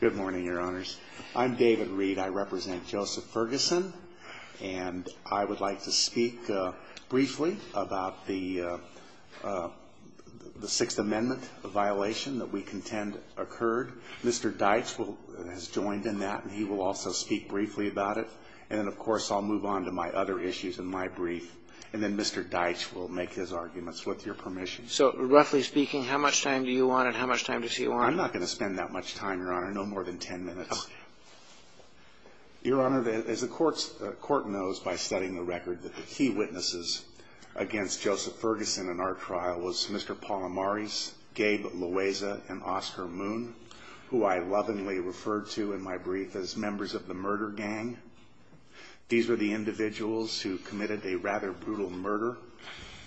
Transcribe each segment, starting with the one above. Good morning, Your Honors. I'm David Reed. I represent Joseph Ferguson. And I would like to speak briefly about the Sixth Amendment violation that we contend occurred. Mr. Deitch has joined in that, and he will also speak briefly about it. And then, of course, I'll move on to my other issues in my brief. And then Mr. Deitch will make his arguments, with your permission. So roughly speaking, how much time do you want and how much time does he want? I'm not going to spend that much time, Your Honor, no more than 10 minutes. Your Honor, as the Court knows by studying the record, that the key witnesses against Joseph Ferguson in our trial was Mr. Paul Amaris, Gabe Loaiza, and Oscar Moon, who I lovingly referred to in my brief as members of the murder gang. These were the individuals who committed a rather brutal murder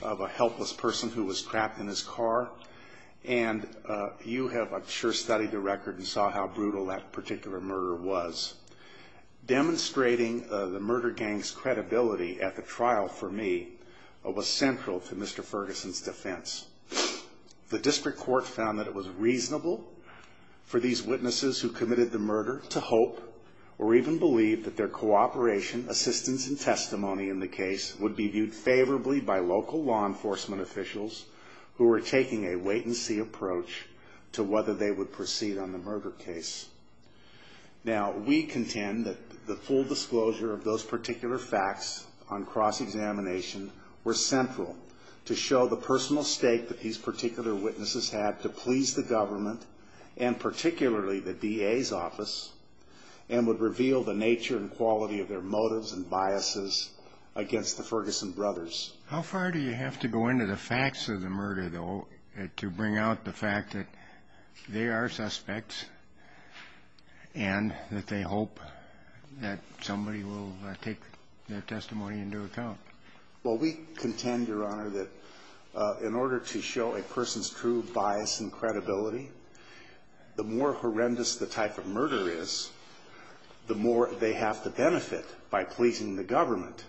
of a helpless person who was trapped in his car. And you have, I'm sure, studied the record and saw how brutal that particular murder was. Demonstrating the murder gang's credibility at the trial for me was central to Mr. Ferguson's defense. The District Court found that it was reasonable for these witnesses who committed the murder to hope or even believe that their cooperation, assistance, and testimony in the case would be viewed favorably by local law enforcement officials who were taking a wait-and-see approach to whether they would proceed on the murder case. Now, we contend that the full disclosure of those particular facts on cross-examination were central to show the personal stake that these particular witnesses had to please the government, and particularly the DA's office, and would reveal the nature and quality of their motives and biases against the Ferguson brothers. How far do you have to go into the facts of the murder, though, to bring out the fact that they are suspects and that they hope that somebody will take their testimony into account? Well, we contend, Your Honor, that in order to show a person's true bias and credibility, the more horrendous the type of murder is, the more they have to benefit by pleasing the government.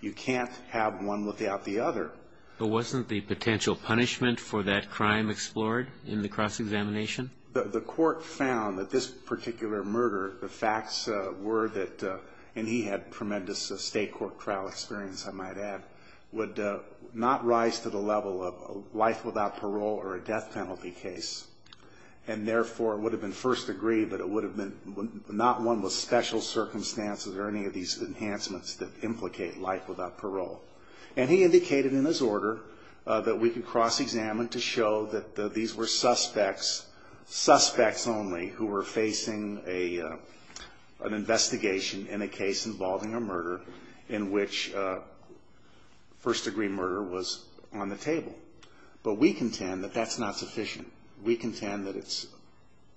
You can't have one without the other. But wasn't the potential punishment for that crime explored in the cross-examination? The court found that this particular murder, the facts were that, and he had tremendous state court trial experience, I might add, would not rise to the level of a life without parole or a death penalty case. And therefore, it would have been first degree, but it would have been not one with special circumstances or any of these enhancements that implicate life without parole. And he indicated in his order that we could cross-examine to show that these were suspects, suspects only, who were facing an investigation in a case involving a murder in which first degree murder was on the table. But we contend that that's not sufficient. We contend that it's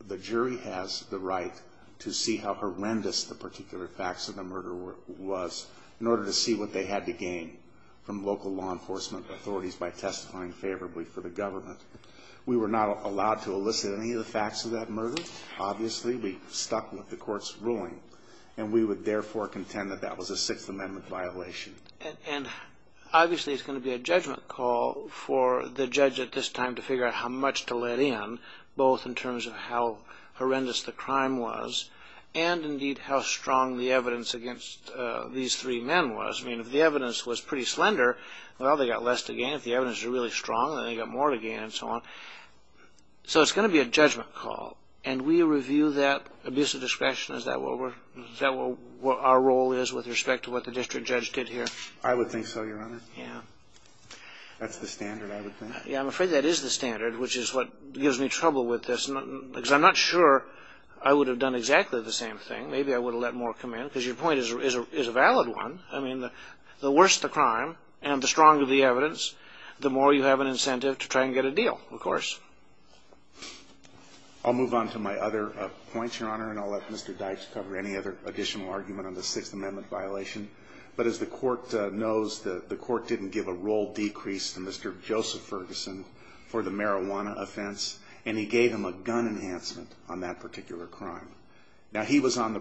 the jury has the right to see how horrendous the particular facts of the murder was in order to see what they had to gain from local law enforcement authorities by testifying favorably for the government. We were not allowed to elicit any of the facts of that murder. Obviously, we stuck with the court's ruling. And we would therefore contend that that was a Sixth Amendment violation. And obviously, it's going to be a judgment call for the judge at this time to figure out how much to let in, both in terms of how horrendous the crime was and, indeed, how strong the evidence against these three men was. I mean, if the evidence was pretty slender, well, they got less to gain. If the evidence was really strong, then they got more to gain and so on. So it's going to be a judgment call. And we review that abuse of discretion. Is that what our role is with respect to what the district judge did here? I would think so, Your Honor. That's the standard, I would think. I'm afraid that is the standard, which is what gives me trouble with this, because I'm not sure I would have done exactly the same thing. Maybe I would have let more come in, because your point is a valid one. I mean, the worse the crime and the stronger the evidence, the more you have an incentive to try and get a deal, of course. I'll move on to my other points, Your Honor, and I'll let Mr. Dykes cover any other additional argument on the Sixth Amendment violation. But as the Court knows, the Court didn't give a roll decrease to Mr. Joseph Ferguson for the marijuana offense, and he gave him a gun enhancement on that particular crime. Now, he was on the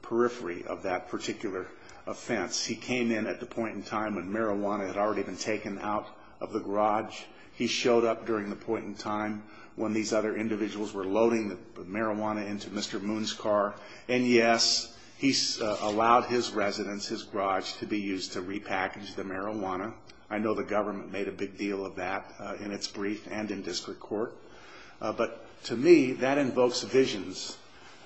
periphery of that particular offense. He came in at the point in time when marijuana had already been taken out of the garage. He showed up during the point in time when these other individuals were loading the marijuana into Mr. Moon's car. And yes, he allowed his residence, his garage, to be used to repackage the marijuana. I know the government made a big deal of that in its brief and in district court. But to me, that invokes visions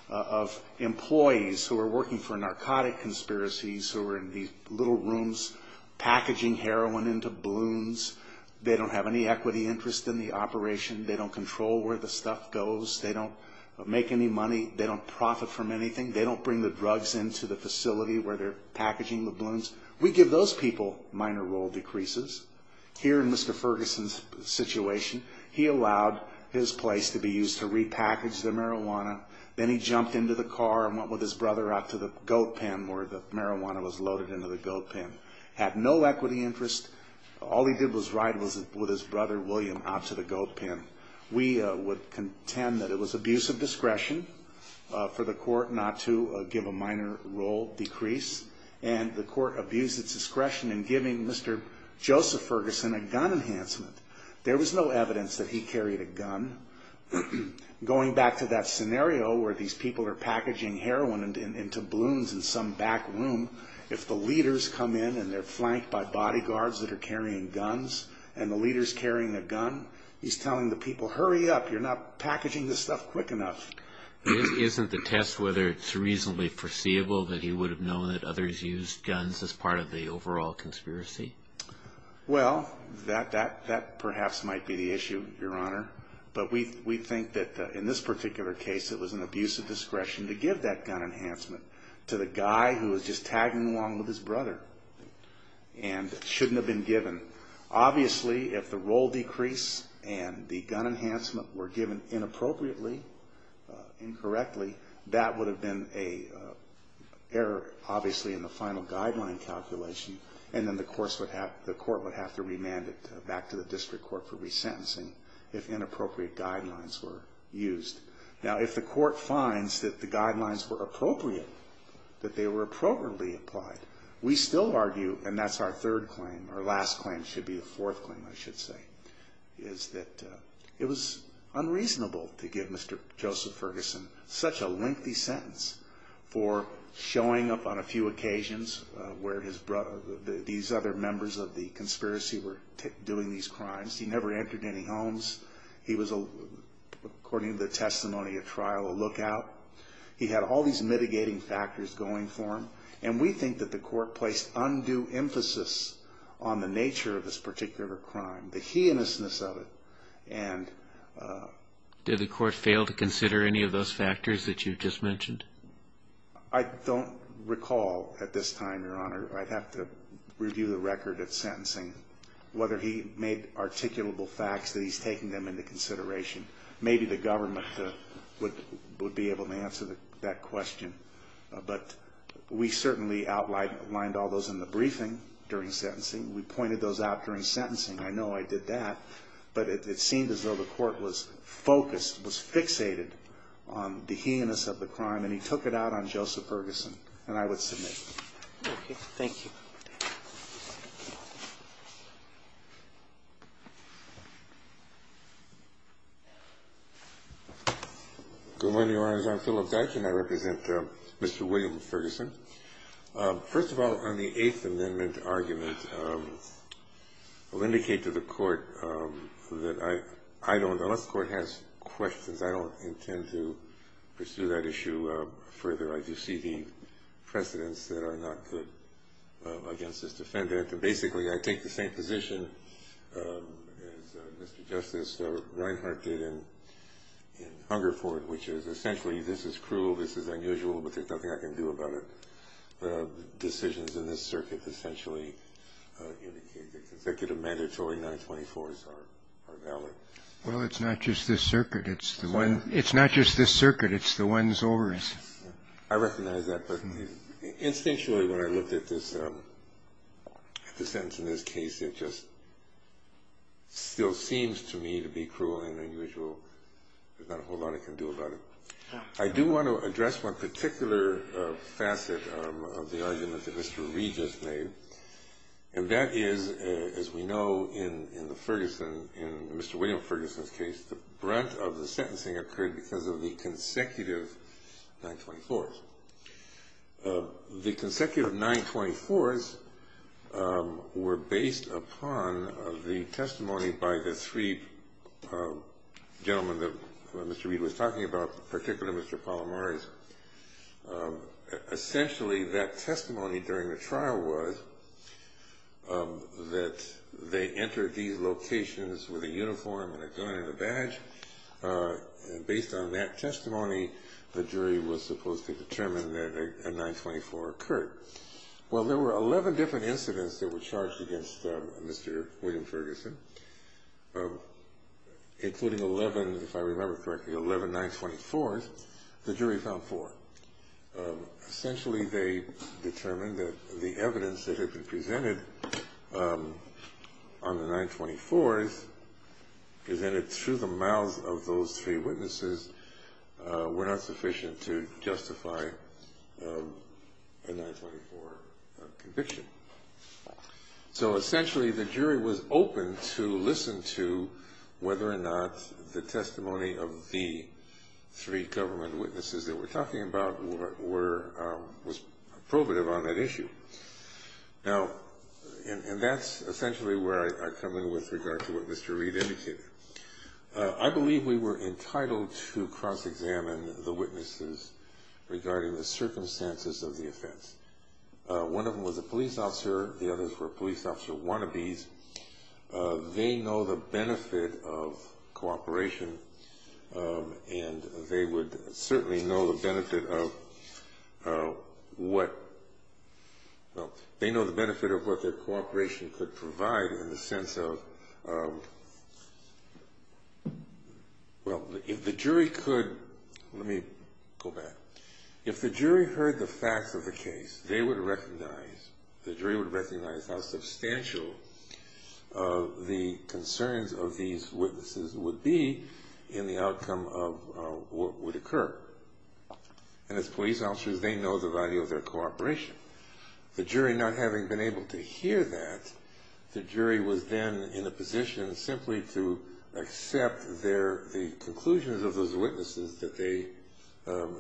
of employees who are working for narcotic conspiracies, who are in these little rooms packaging heroin into balloons. They don't have any equity interest in the operation. They don't control where the stuff goes. They don't make any money. They don't profit from anything. They don't bring the drugs into the facility where they're packaging the balloons. We give those people minor roll decreases. Here in Mr. Ferguson's situation, he allowed his place to be used to repackage the marijuana. Then he jumped into the car and went with his brother out to the goat pen where the marijuana was loaded into the goat pen. Had no equity interest. All he did was ride with his brother, William, out to the goat pen. We would contend that it was abuse of discretion for the court not to give a minor roll decrease. And the court abused its discretion in giving Mr. Joseph Ferguson a gun enhancement. There was no evidence that he carried a gun. Going back to that scenario where these people are packaging heroin into balloons in some back room, if the leaders come in and they're flanked by bodyguards that are carrying guns, and the leader's carrying a gun, he's telling the people, hurry up, you're not packaging this stuff quick enough. Isn't the test whether it's reasonably foreseeable that he would have known that others used guns as part of the overall conspiracy? Well, that perhaps might be the issue, Your Honor. But we think that in this particular case, it was an abuse of discretion to give that gun enhancement to the guy who was just tagging along with his brother and shouldn't have been given. Obviously, if the roll decrease and the gun enhancement were given inappropriately, incorrectly, that would have been an error, obviously, in the final guideline calculation. And then the court would have to remand it back to the district court for resentencing if inappropriate guidelines were used. Now, if the court finds that the guidelines were appropriate, that they were appropriately applied, we still argue, and that's our third claim, or last claim should be the fourth claim, I should say, is that it was unreasonable to give Mr. Joseph Ferguson such a lengthy sentence for showing up on a few occasions where these other members of the conspiracy were doing these crimes. He never entered any homes. He was, according to the testimony at trial, a lookout. He had all these mitigating factors going for him. And we think that the court placed undue emphasis on the nature of this particular crime, the heinousness of it. Did the court fail to consider any of those factors that you just mentioned? I don't recall at this time, Your Honor, I'd have to review the record of sentencing, whether he made articulable facts that he's taking them into consideration. Maybe the government would be able to answer that question. But we certainly outlined all those in the briefing during sentencing. We pointed those out during sentencing. I know I did that. But it seemed as though the court was focused, was fixated on the heinousness of the crime, and he took it out on Joseph Ferguson. And I would submit. Okay. Thank you. Good morning, Your Honor. I'm Philip Dutch, and I represent Mr. William Ferguson. First of all, on the Eighth Amendment argument, I'll indicate to the court that I don't, unless the court has questions, I don't intend to pursue that issue further. I do see the precedents that are not good against this defendant. And basically, I take the same position as Mr. Justice Reinhart did in Hungerford, which is essentially this is cruel, this is unusual, but there's nothing I can do about it. The decisions in this circuit essentially indicate that the consecutive mandatory 924s are valid. Well, it's not just this circuit. It's the one. It's not just this circuit. It's the one's oars. I recognize that, but instinctually, when I looked at the sentence in this case, it just still seems to me to be cruel and unusual. There's not a whole lot I can do about it. I do want to address one particular facet of the argument that Mr. Reid just made, and that is, as we know, in the Ferguson, in Mr. William Ferguson's case, the brunt of the sentencing occurred because of the consecutive 924s. The consecutive 924s were based upon the testimony by the three gentlemen that Mr. Reid was talking about, particularly Mr. Palomari's. Essentially, that testimony during the trial was that they entered these locations with a uniform and a gun and a badge. Based on that testimony, the jury was supposed to determine that a 924 occurred. Well, there were 11 different incidents that were charged against Mr. William Ferguson, including 11, if I remember correctly, 11 924s, the jury found four. Essentially, they determined that the evidence that had been presented on the 924s, presented through the mouths of those three witnesses, were not sufficient to justify a 924 conviction. Essentially, the jury was open to listen to whether or not the testimony of the three government witnesses that we're talking about was probative on that issue. That's essentially where I come in with regard to what Mr. Reid indicated. I believe we were entitled to cross-examine the witnesses regarding the circumstances of the offense. One of them was a police officer, the others were police officer wannabes. They know the benefit of cooperation, and they would certainly know the benefit of what their cooperation could provide in the sense of... Let me go back. If the jury heard the facts of the case, they would recognize, the jury would recognize how substantial the concerns of these witnesses would be in the outcome of what would occur. And as police officers, they know the value of their cooperation. The jury not having been able to hear that, the jury was then in a position simply to accept the conclusions of those witnesses that they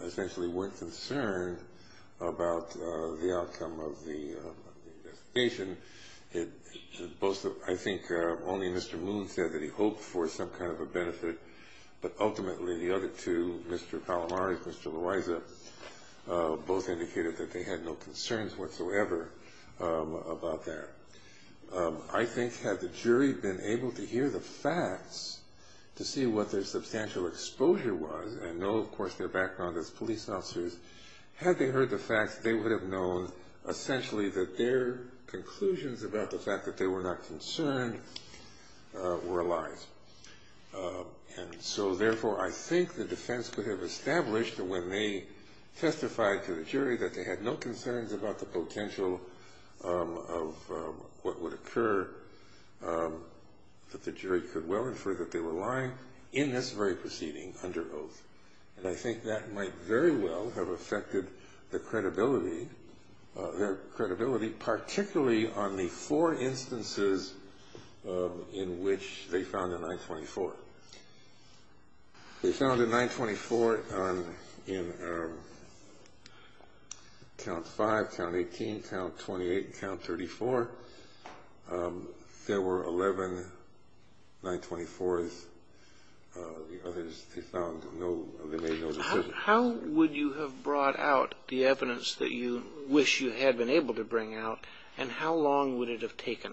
essentially weren't concerned about the outcome of the investigation. I think only Mr. Moon said that he hoped for some kind of a benefit, but ultimately the other two, Mr. Palomar and Mr. Loaiza, both indicated that they had no concerns whatsoever about that. I think had the jury been able to hear the facts to see what their substantial exposure was, and know of course their background as police officers, had they heard the facts, they would have known essentially that their conclusions about the fact that they were not concerned were a lie. And so therefore I think the defense could have established that when they testified to the jury that they had no concerns about the potential of what would occur, that the jury could well infer that they were lying in this very proceeding under oath. And I think that might very well have affected their credibility, particularly on the four instances in which they found a 924. They found a 924 in Count 5, Count 18, Count 28, Count 34. There were 11 924s. The others, they found no, they made no decisions. How would you have brought out the evidence that you wish you had been able to bring out, and how long would it have taken?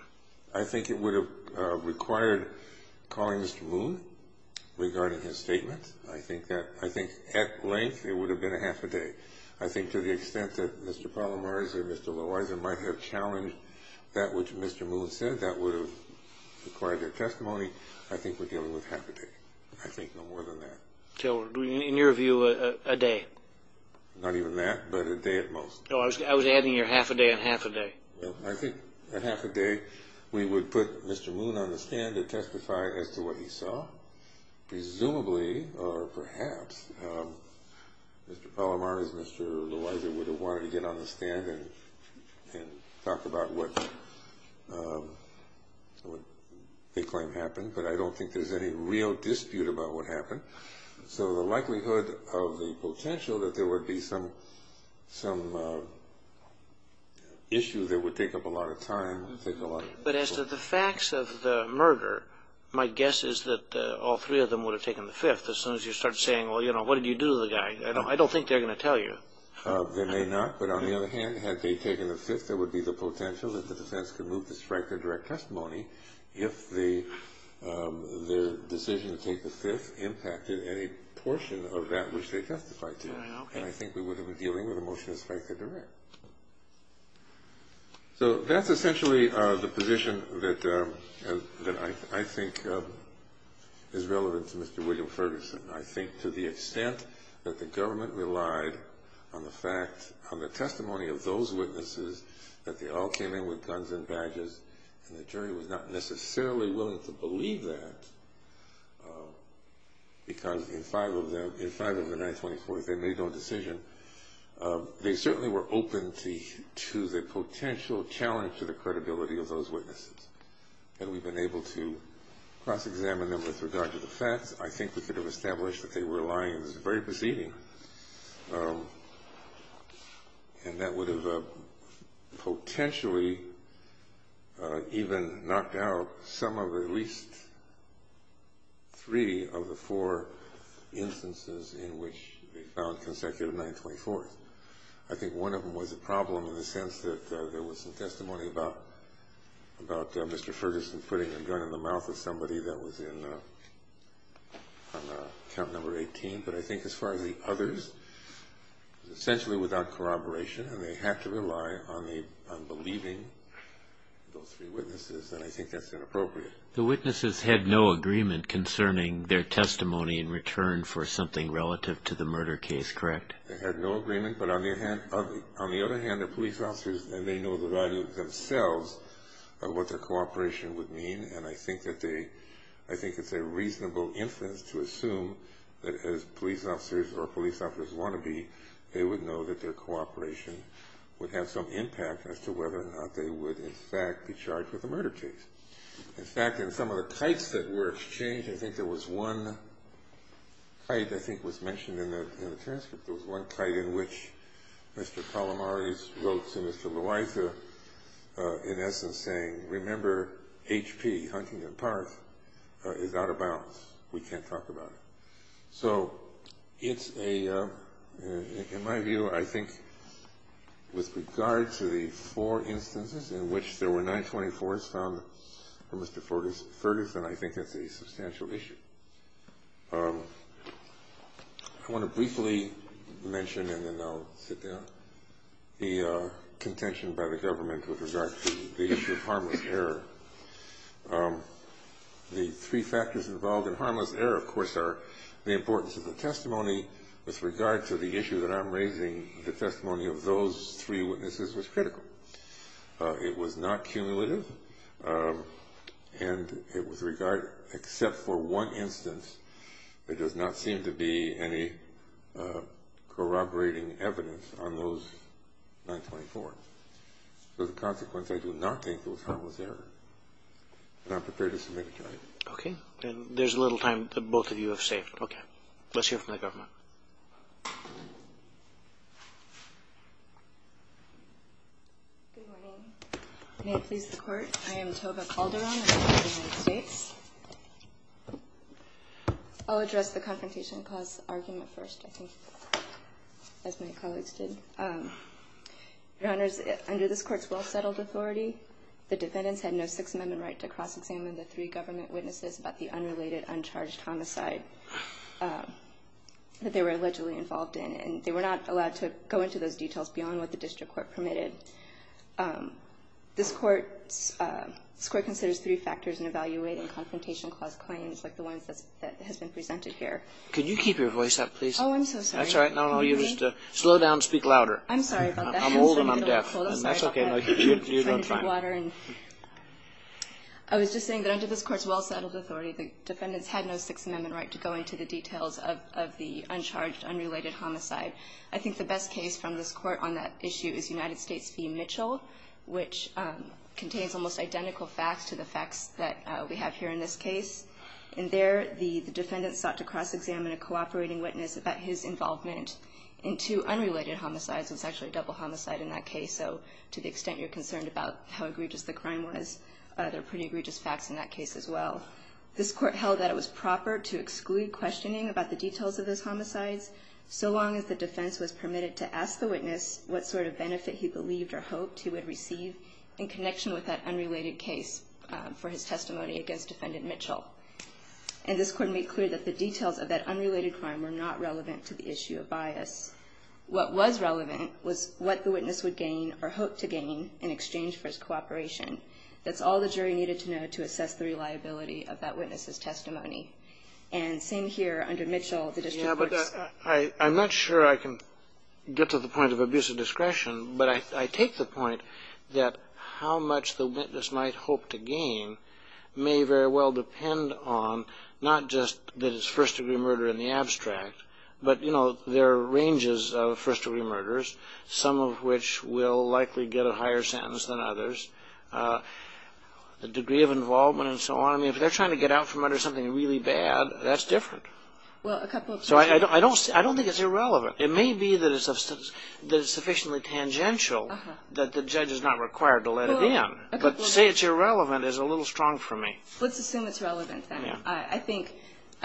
I think it would have required calling Mr. Moon regarding his statement. I think at length it would have been a half a day. I think to the extent that Mr. Palomarza or Mr. Loaiza might have challenged that which Mr. Moon said, that would have required their testimony. I think we're dealing with half a day. I think no more than that. So in your view, a day? Not even that, but a day at most. No, I was adding your half a day and half a day. I think a half a day we would put Mr. Moon on the stand to testify as to what he saw. Presumably, or perhaps, Mr. Palomarza and Mr. Loaiza would have wanted to get on the stand and talk about what they claim happened, but I don't think there's any real dispute about what happened. So the likelihood of the potential that there would be some issue that would take up a lot of time. But as to the facts of the murder, my guess is that all three of them would have taken the fifth. As soon as you start saying, well, what did you do to the guy? I don't think they're going to tell you. They may not, but on the other hand, had they taken the fifth, there would be the potential that the defense could move to strike their direct testimony if their decision to take the fifth impacted any portion of that which they testified to. And I think we would have been dealing with a motion to strike their direct. So that's essentially the position that I think is relevant to Mr. William Ferguson. I think to the extent that the government relied on the fact, on the testimony of those witnesses, that they all came in with guns and badges, and the jury was not necessarily willing to believe that, because in five of the 924, they made no decision, they certainly were open to the potential challenge to the credibility of those witnesses. Had we been able to cross-examine them with regard to the facts, I think we could have established that they were lying in this very proceeding. And that would have potentially even knocked out some of at least three of the four instances in which they found consecutive 924s. I think one of them was a problem in the sense that there was some testimony about Mr. Ferguson putting a gun in the mouth of somebody that was on count number 18. But I think as far as the others, it was essentially without corroboration, and they had to rely on believing those three witnesses, and I think that's inappropriate. The witnesses had no agreement concerning their testimony in return for something relative to the murder case, correct? They had no agreement. But on the other hand, they're police officers, and they know the value themselves of what their cooperation would mean. And I think it's a reasonable inference to assume that as police officers or police officers want to be, they would know that their cooperation would have some impact as to whether or not they would in fact be charged with a murder case. In fact, in some of the kites that were exchanged, I think there was one kite I think was mentioned in the transcript. There was one kite in which Mr. Calamari wrote to Mr. Loiza in essence saying, remember, HP, Huntington Park, is out of bounds. We can't talk about it. So it's a, in my view, I think with regard to the four instances in which there were 924s found for Mr. Ferguson, I think it's a substantial issue. I want to briefly mention, and then I'll sit down, the contention by the government with regard to the issue of harmless error. The three factors involved in harmless error, of course, are the importance of the testimony. With regard to the issue that I'm raising, the testimony of those three witnesses was critical. It was not cumulative. And with regard, except for one instance, there does not seem to be any corroborating evidence on those 924s. As a consequence, I do not think it was harmless error. And I'm prepared to submit a charge. Okay. Then there's little time that both of you have saved. Okay. Let's hear from the government. Good morning. May it please the Court. I am Tova Calderon. I live in the United States. I'll address the confrontation clause argument first, I think, as my colleagues did. Your Honors, under this Court's well-settled authority, the defendants had no Sixth Amendment right to cross-examine the three government witnesses about the unrelated, uncharged homicide that they were allegedly involved in. And they were not allowed to go into those details beyond what the district court permitted. This Court considers three factors in evaluating confrontation clause claims like the ones that has been presented here. Can you keep your voice up, please? Oh, I'm so sorry. That's all right. Slow down. Speak louder. I'm sorry. I'm old and I'm deaf. That's okay. You run fine. I'm Tova Calderon. I was just saying that under this Court's well-settled authority, the defendants had no Sixth Amendment right to go into the details of the uncharged, unrelated homicide. I think the best case from this Court on that issue is United States v. Mitchell, which contains almost identical facts to the facts that we have here in this case. In there, the defendants sought to cross-examine a cooperating witness about his involvement in two unrelated homicides. It was actually a double homicide in that case. So to the extent you're concerned about how egregious the crime was, there are pretty egregious facts in that case as well. This Court held that it was proper to exclude questioning about the details of those homicides, so long as the defense was permitted to ask the witness what sort of benefit he believed or hoped he would receive in connection with that unrelated case for his testimony against Defendant Mitchell. And this Court made clear that the details of that unrelated crime were not relevant to the issue of bias. What was relevant was what the witness would gain or hoped to gain in exchange for his cooperation. That's all the jury needed to know to assess the reliability of that witness's testimony. And same here under Mitchell, the district courts... Yeah, but I'm not sure I can get to the point of abusive discretion, but I take the point that how much the witness might hope to gain may very well depend on not just that it's first-degree murder in the abstract, but there are ranges of first-degree murders, some of which will likely get a higher sentence than others. The degree of involvement and so on, if they're trying to get out from under something really bad, that's different. I don't think it's irrelevant. It may be that it's sufficiently tangential that the judge is not required to let it in. But to say it's irrelevant is a little strong for me. Let's assume it's relevant, then. I think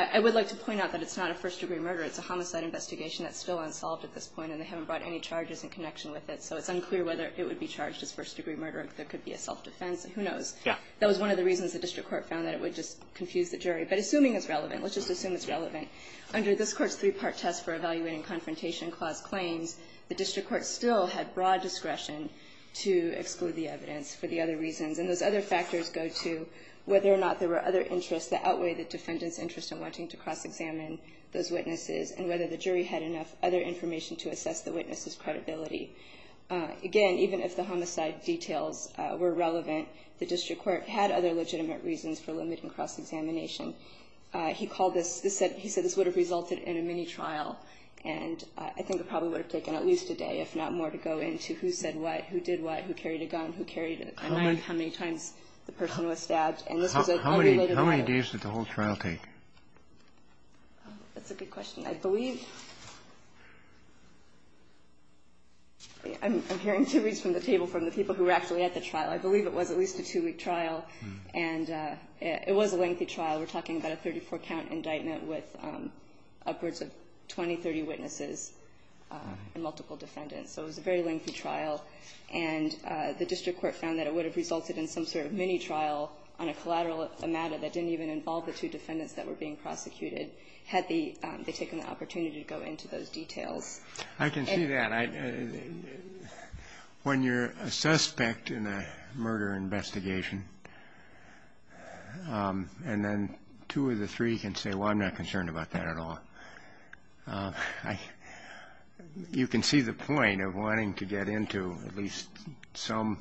I would like to point out that it's not a first-degree murder. It's a homicide investigation that's still unsolved at this point, and they haven't brought any charges in connection with it, so it's unclear whether it would be charged as first-degree murder. There could be a self-defense. Who knows? That was one of the reasons the district court found that it would just confuse the jury. But assuming it's relevant, let's just assume it's relevant. Under this Court's three-part test for evaluating confrontation clause claims, the district court still had broad discretion to exclude the evidence for the other reasons, and those other factors go to whether or not there were other interests that outweighed the defendant's interest in wanting to cross-examine those witnesses and whether the jury had enough other information to assess the witness's credibility. Again, even if the homicide details were relevant, the district court had other legitimate reasons for limiting cross-examination. He said this would have resulted in a mini-trial, and I think it probably would have taken at least a day, if not more, to go into who said what, who did what, who carried a gun, who carried a knife, how many times the person was stabbed. And this was an unrelated matter. How many days did the whole trial take? That's a good question. I believe I'm hearing theories from the table from the people who were actually at the trial. I believe it was at least a two-week trial, and it was a lengthy trial. We're talking about a 34-count indictment with upwards of 20, 30 witnesses and multiple defendants. So it was a very lengthy trial, and the district court found that it would have resulted in some sort of mini-trial on a collateral matter that didn't even involve the two defendants that were being prosecuted had they taken the opportunity to go into those details. I can see that. When you're a suspect in a murder investigation and then two of the three can say, well, I'm not concerned about that at all. You can see the point of wanting to get into at least some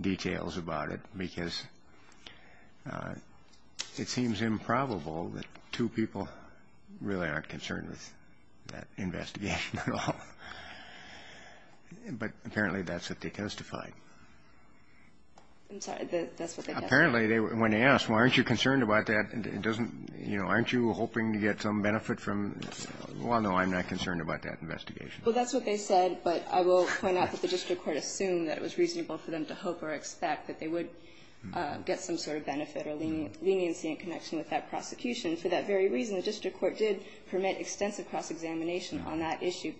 details about it, because it seems improbable that two people really aren't concerned with that investigation at all. But apparently that's what they testified. I'm sorry. That's what they testified. Apparently, when they asked, well, aren't you concerned about that? It doesn't, you know, aren't you hoping to get some benefit from this? Well, no, I'm not concerned about that investigation. Well, that's what they said, but I will point out that the district court assumed that it was reasonable for them to hope or expect that they would get some sort of benefit or leniency in connection with that prosecution. For that very reason, the district court did permit extensive cross-examination on that issue.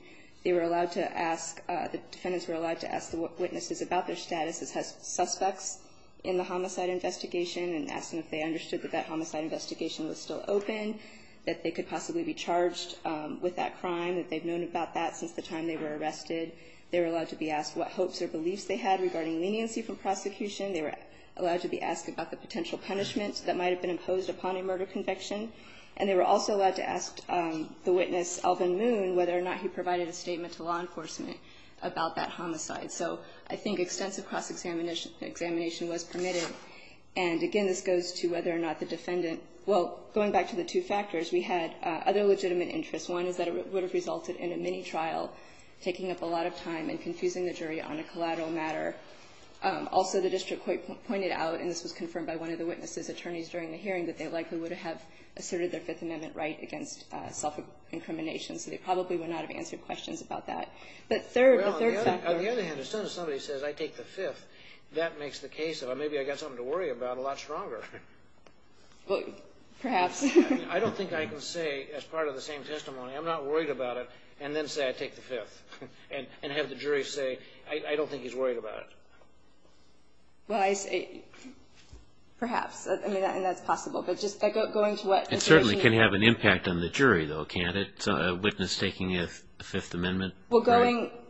They were allowed to ask the defendants were allowed to ask the witnesses about their status as suspects in the homicide investigation and ask them if they understood that that homicide investigation was still open, that they could possibly be charged with that crime, that they've known about that since the time they were arrested. They were allowed to be asked what hopes or beliefs they had regarding leniency from prosecution. They were allowed to be asked about the potential punishments that might have been imposed upon a murder conviction. And they were also allowed to ask the witness, Alvin Moon, whether or not he provided a statement to law enforcement about that homicide. So I think extensive cross-examination was permitted. And again, this goes to whether or not the defendant – well, going back to the two factors, we had other legitimate interests. One is that it would have resulted in a mini-trial, taking up a lot of time and confusing the jury on a collateral matter. Also, the district court pointed out, and this was confirmed by one of the witnesses' attorneys during the hearing, that they likely would have asserted their Fifth Amendment right against self-incrimination. So they probably would not have answered questions about that. But third, the third factor – Well, maybe I got something to worry about a lot stronger. Well, perhaps. I don't think I can say, as part of the same testimony, I'm not worried about it, and then say I take the Fifth. And have the jury say, I don't think he's worried about it. Well, I say, perhaps. I mean, that's possible. But just going to what – It certainly can have an impact on the jury, though, can't it? A witness taking a Fifth Amendment right? Well, going –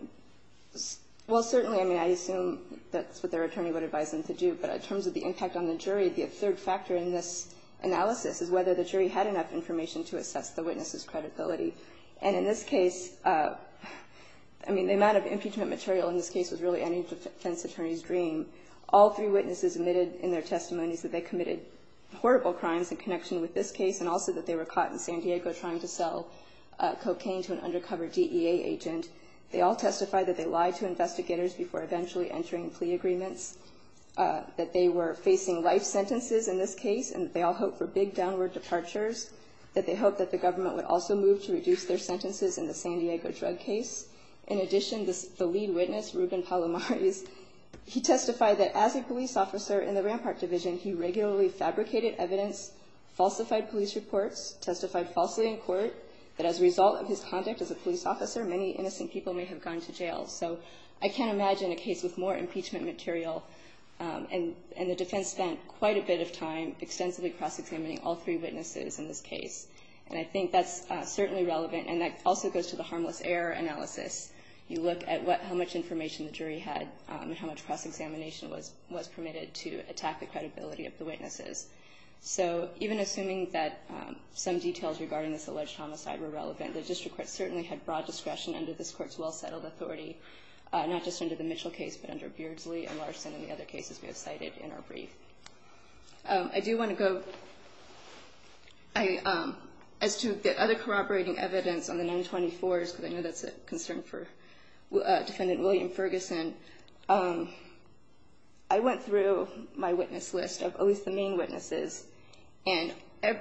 well, certainly, I mean, I assume that's what their attorney would advise them to do. But in terms of the impact on the jury, the third factor in this analysis is whether the jury had enough information to assess the witness' credibility. And in this case, I mean, the amount of impeachment material in this case was really any defense attorney's dream. All three witnesses admitted in their testimonies that they committed horrible crimes in connection with this case, and also that they were caught in San Diego trying to sell cocaine to an undercover DEA agent. They all testified that they lied to investigators before eventually entering plea agreements, that they were facing life sentences in this case, and that they all hoped for big downward departures, that they hoped that the government would also move to reduce their sentences in the San Diego drug case. In addition, the lead witness, Ruben Palomares, he testified that as a police officer in the Rampart Division, he regularly fabricated evidence, falsified police reports, testified falsely in court, that as a result of his conduct as a police officer, many innocent people may have gone to jail. So I can't imagine a case with more impeachment material, and the defense spent quite a bit of time extensively cross-examining all three witnesses in this case. And I think that's certainly relevant, and that also goes to the harmless error analysis. You look at how much information the jury had and how much cross-examination was permitted to attack the credibility of the witnesses. So even assuming that some details regarding this alleged homicide were relevant, the district court certainly had broad discretion under this court's well-settled authority, not just under the Mitchell case, but under Beardsley and Larson and the other cases we have cited in our brief. I do want to go, as to the other corroborating evidence on the 924s, because I know that's a concern for Defendant William Ferguson, I went through my own witnesses, and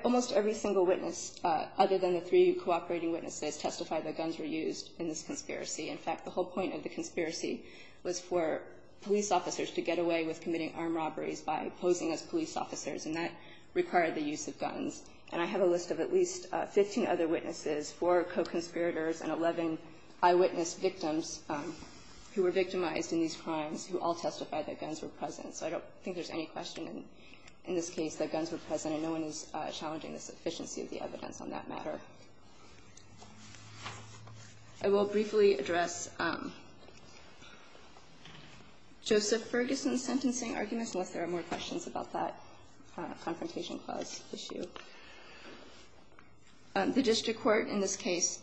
almost every single witness, other than the three cooperating witnesses, testified that guns were used in this conspiracy. In fact, the whole point of the conspiracy was for police officers to get away with committing armed robberies by posing as police officers, and that required the use of guns. And I have a list of at least 15 other witnesses, four co-conspirators and 11 eyewitness victims who were victimized in these crimes who all testified that guns were present. So I don't think there's any question in this case that guns were present, and no one is challenging the sufficiency of the evidence on that matter. I will briefly address Joseph Ferguson's sentencing arguments, unless there are more questions about that Confrontation Clause issue. The district court in this case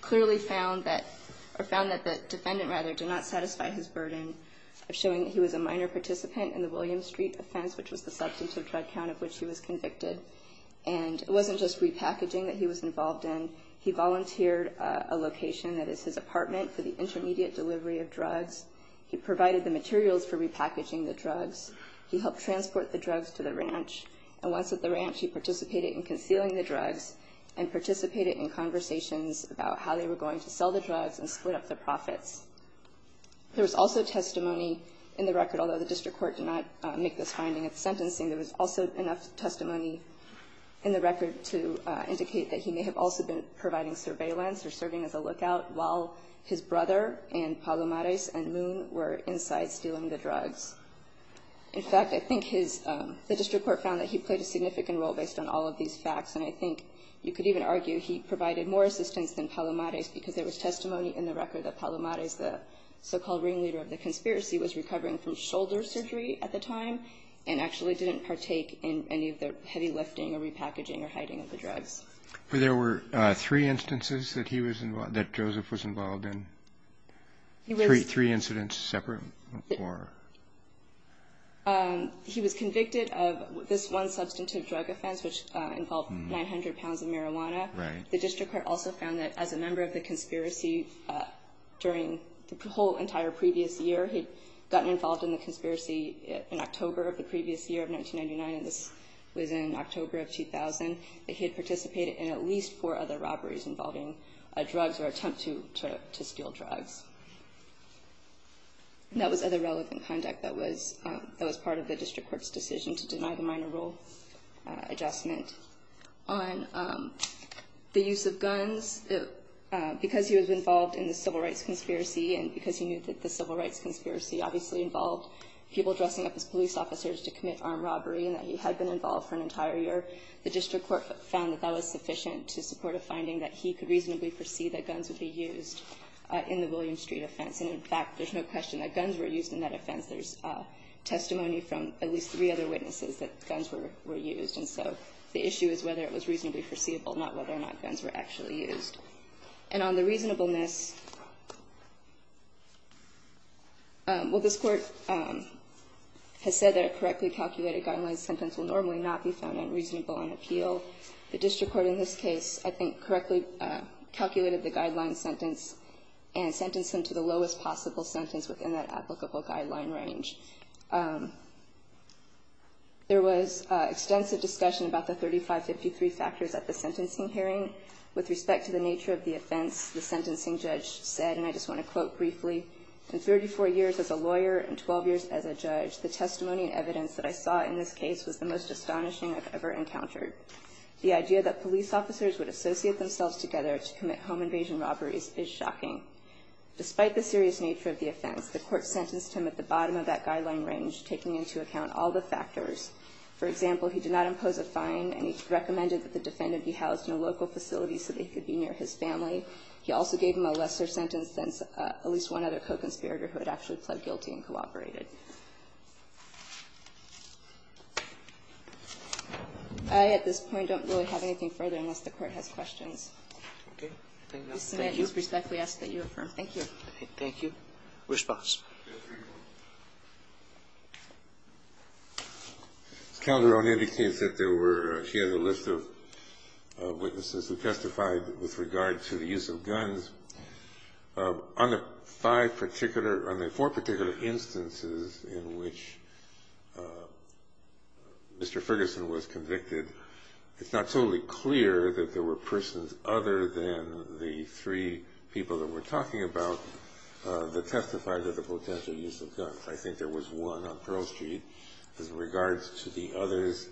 clearly found that, or found that the defendant, rather, did not satisfy his burden of showing that he was a minor participant in the William Street offense, which was the substantive drug count of which he was convicted. And it wasn't just repackaging that he was involved in. He volunteered a location that is his apartment for the intermediate delivery of drugs. He provided the materials for repackaging the drugs. He helped transport the drugs to the ranch. And once at the ranch, he participated in concealing the drugs and participated in conversations about how they were going to sell the drugs and split up the drugs. There was also testimony in the record, although the district court did not make this finding at the sentencing, there was also enough testimony in the record to indicate that he may have also been providing surveillance or serving as a lookout while his brother and Palomares and Moon were inside stealing the drugs. In fact, I think his, the district court found that he played a significant role based on all of these facts. And I think you could even argue he provided more assistance than Palomares because there was testimony in the record that Palomares, the so-called ringleader of the conspiracy, was recovering from shoulder surgery at the time and actually didn't partake in any of the heavy lifting or repackaging or hiding of the drugs. There were three instances that he was involved, that Joseph was involved in? Three incidents separate or? He was convicted of this one substantive drug offense which involved 900 pounds of marijuana. Right. The district court also found that as a member of the conspiracy during the whole entire previous year, he'd gotten involved in the conspiracy in October of the previous year of 1999 and this was in October of 2000, that he had participated in at least four other robberies involving drugs or attempt to steal drugs. That was other relevant conduct that was part of the district court's decision to use of guns. Because he was involved in the civil rights conspiracy and because he knew that the civil rights conspiracy obviously involved people dressing up as police officers to commit armed robbery and that he had been involved for an entire year, the district court found that that was sufficient to support a finding that he could reasonably foresee that guns would be used in the William Street offense. And, in fact, there's no question that guns were used in that offense. There's testimony from at least three other witnesses that guns were used. And so the issue is whether it was reasonably foreseeable, not whether or not guns were actually used. And on the reasonableness, well, this Court has said that a correctly calculated guideline sentence will normally not be found unreasonable on appeal. The district court in this case, I think, correctly calculated the guideline sentence and sentenced him to the lowest possible sentence within that applicable guideline range. There was extensive discussion about the 3553 factors at the sentencing hearing. With respect to the nature of the offense, the sentencing judge said, and I just want to quote briefly, in 34 years as a lawyer and 12 years as a judge, the testimony and evidence that I saw in this case was the most astonishing I've ever encountered. The idea that police officers would associate themselves together to commit home invasion robberies is shocking. And I think it's important to note that the district court in this case did not take into account some of that guideline range, taking into account all the factors. For example, he did not impose a fine, and he recommended that the defendant be housed in a local facility so they could be near his family. He also gave him a lesser sentence than at least one other co-conspirator who had actually pled guilty and cooperated. I, at this point, don't really have anything further unless the Court has questions. Okay. Thank you. With respect, we ask that you affirm. Thank you. Thank you. Response. Ms. Calderon indicates that there were, she has a list of witnesses who testified with regard to the use of guns. On the five particular, on the four particular instances in which Mr. Ferguson was convicted, it's not totally clear that there were persons other than the three people that we're talking about that testified to the potential use of guns. I think there was one on Pearl Street. As regards to the others,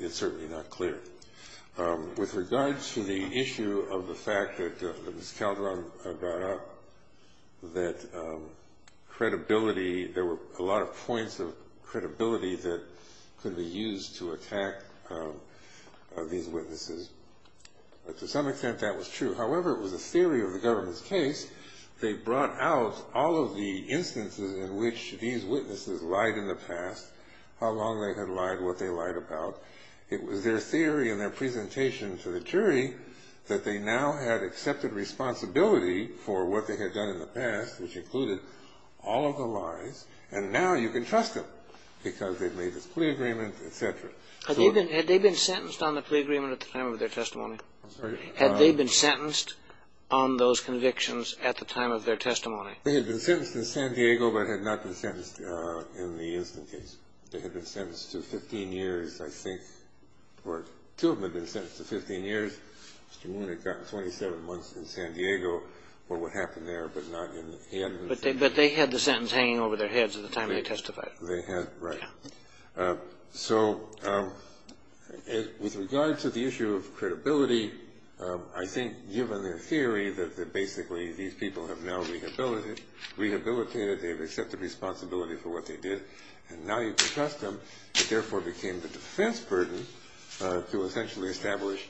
it's certainly not clear. With regards to the issue of the fact that Ms. Calderon brought up, that credibility, there were a lot of points of credibility that could be used to attack these witnesses. To some extent, that was true. However, it was a theory of the government's case. They brought out all of the instances in which these witnesses lied in the past, how long they had lied, what they lied about. It was their theory and their presentation to the jury that they now had accepted responsibility for what they had done in the past, which included all of the lies, and now you can trust them because they've made this plea agreement, et cetera. Had they been sentenced on the plea agreement at the time of their testimony? Had they been sentenced on those convictions at the time of their testimony? They had been sentenced in San Diego but had not been sentenced in the Instant case. They had been sentenced to 15 years, I think, or two of them had been sentenced to 15 years. Mr. Moon had gotten 27 months in San Diego for what happened there but not in the Instant case. But they had the sentence hanging over their heads at the time they testified. They had, right. Yeah. So with regard to the issue of credibility, I think given their theory that basically these people have now rehabilitated, they've accepted responsibility for what they did, and now you can trust them, it therefore became the defense burden to essentially establish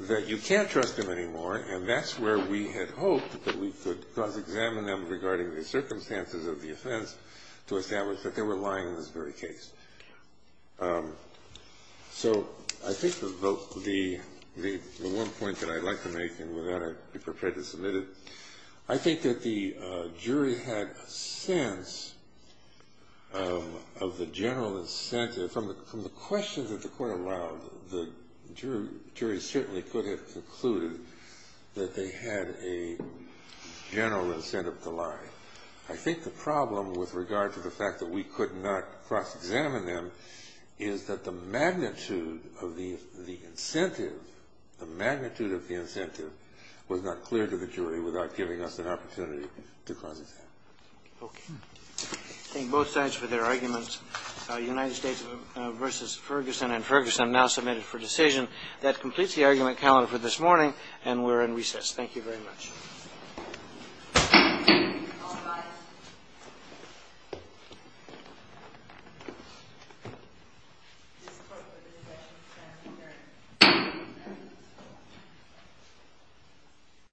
that you can't trust them anymore, and that's where we had hoped that we could examine them regarding the circumstances of the offense to establish that they were lying in this very case. So I think the one point that I'd like to make, and with that I'd be prepared to submit it, I think that the jury had a sense of the general incentive. From the questions that the court allowed, the jury certainly could have concluded that they had a general incentive to lie. I think the problem with regard to the fact that we could not cross-examine them is that the magnitude of the incentive was not clear to the jury without giving us an opportunity to cross-examine them. Okay. Thank both sides for their arguments. United States v. Ferguson and Ferguson now submitted for decision. That completes the argument calendar for this morning, and we're in recess. Thank you very much. All rise.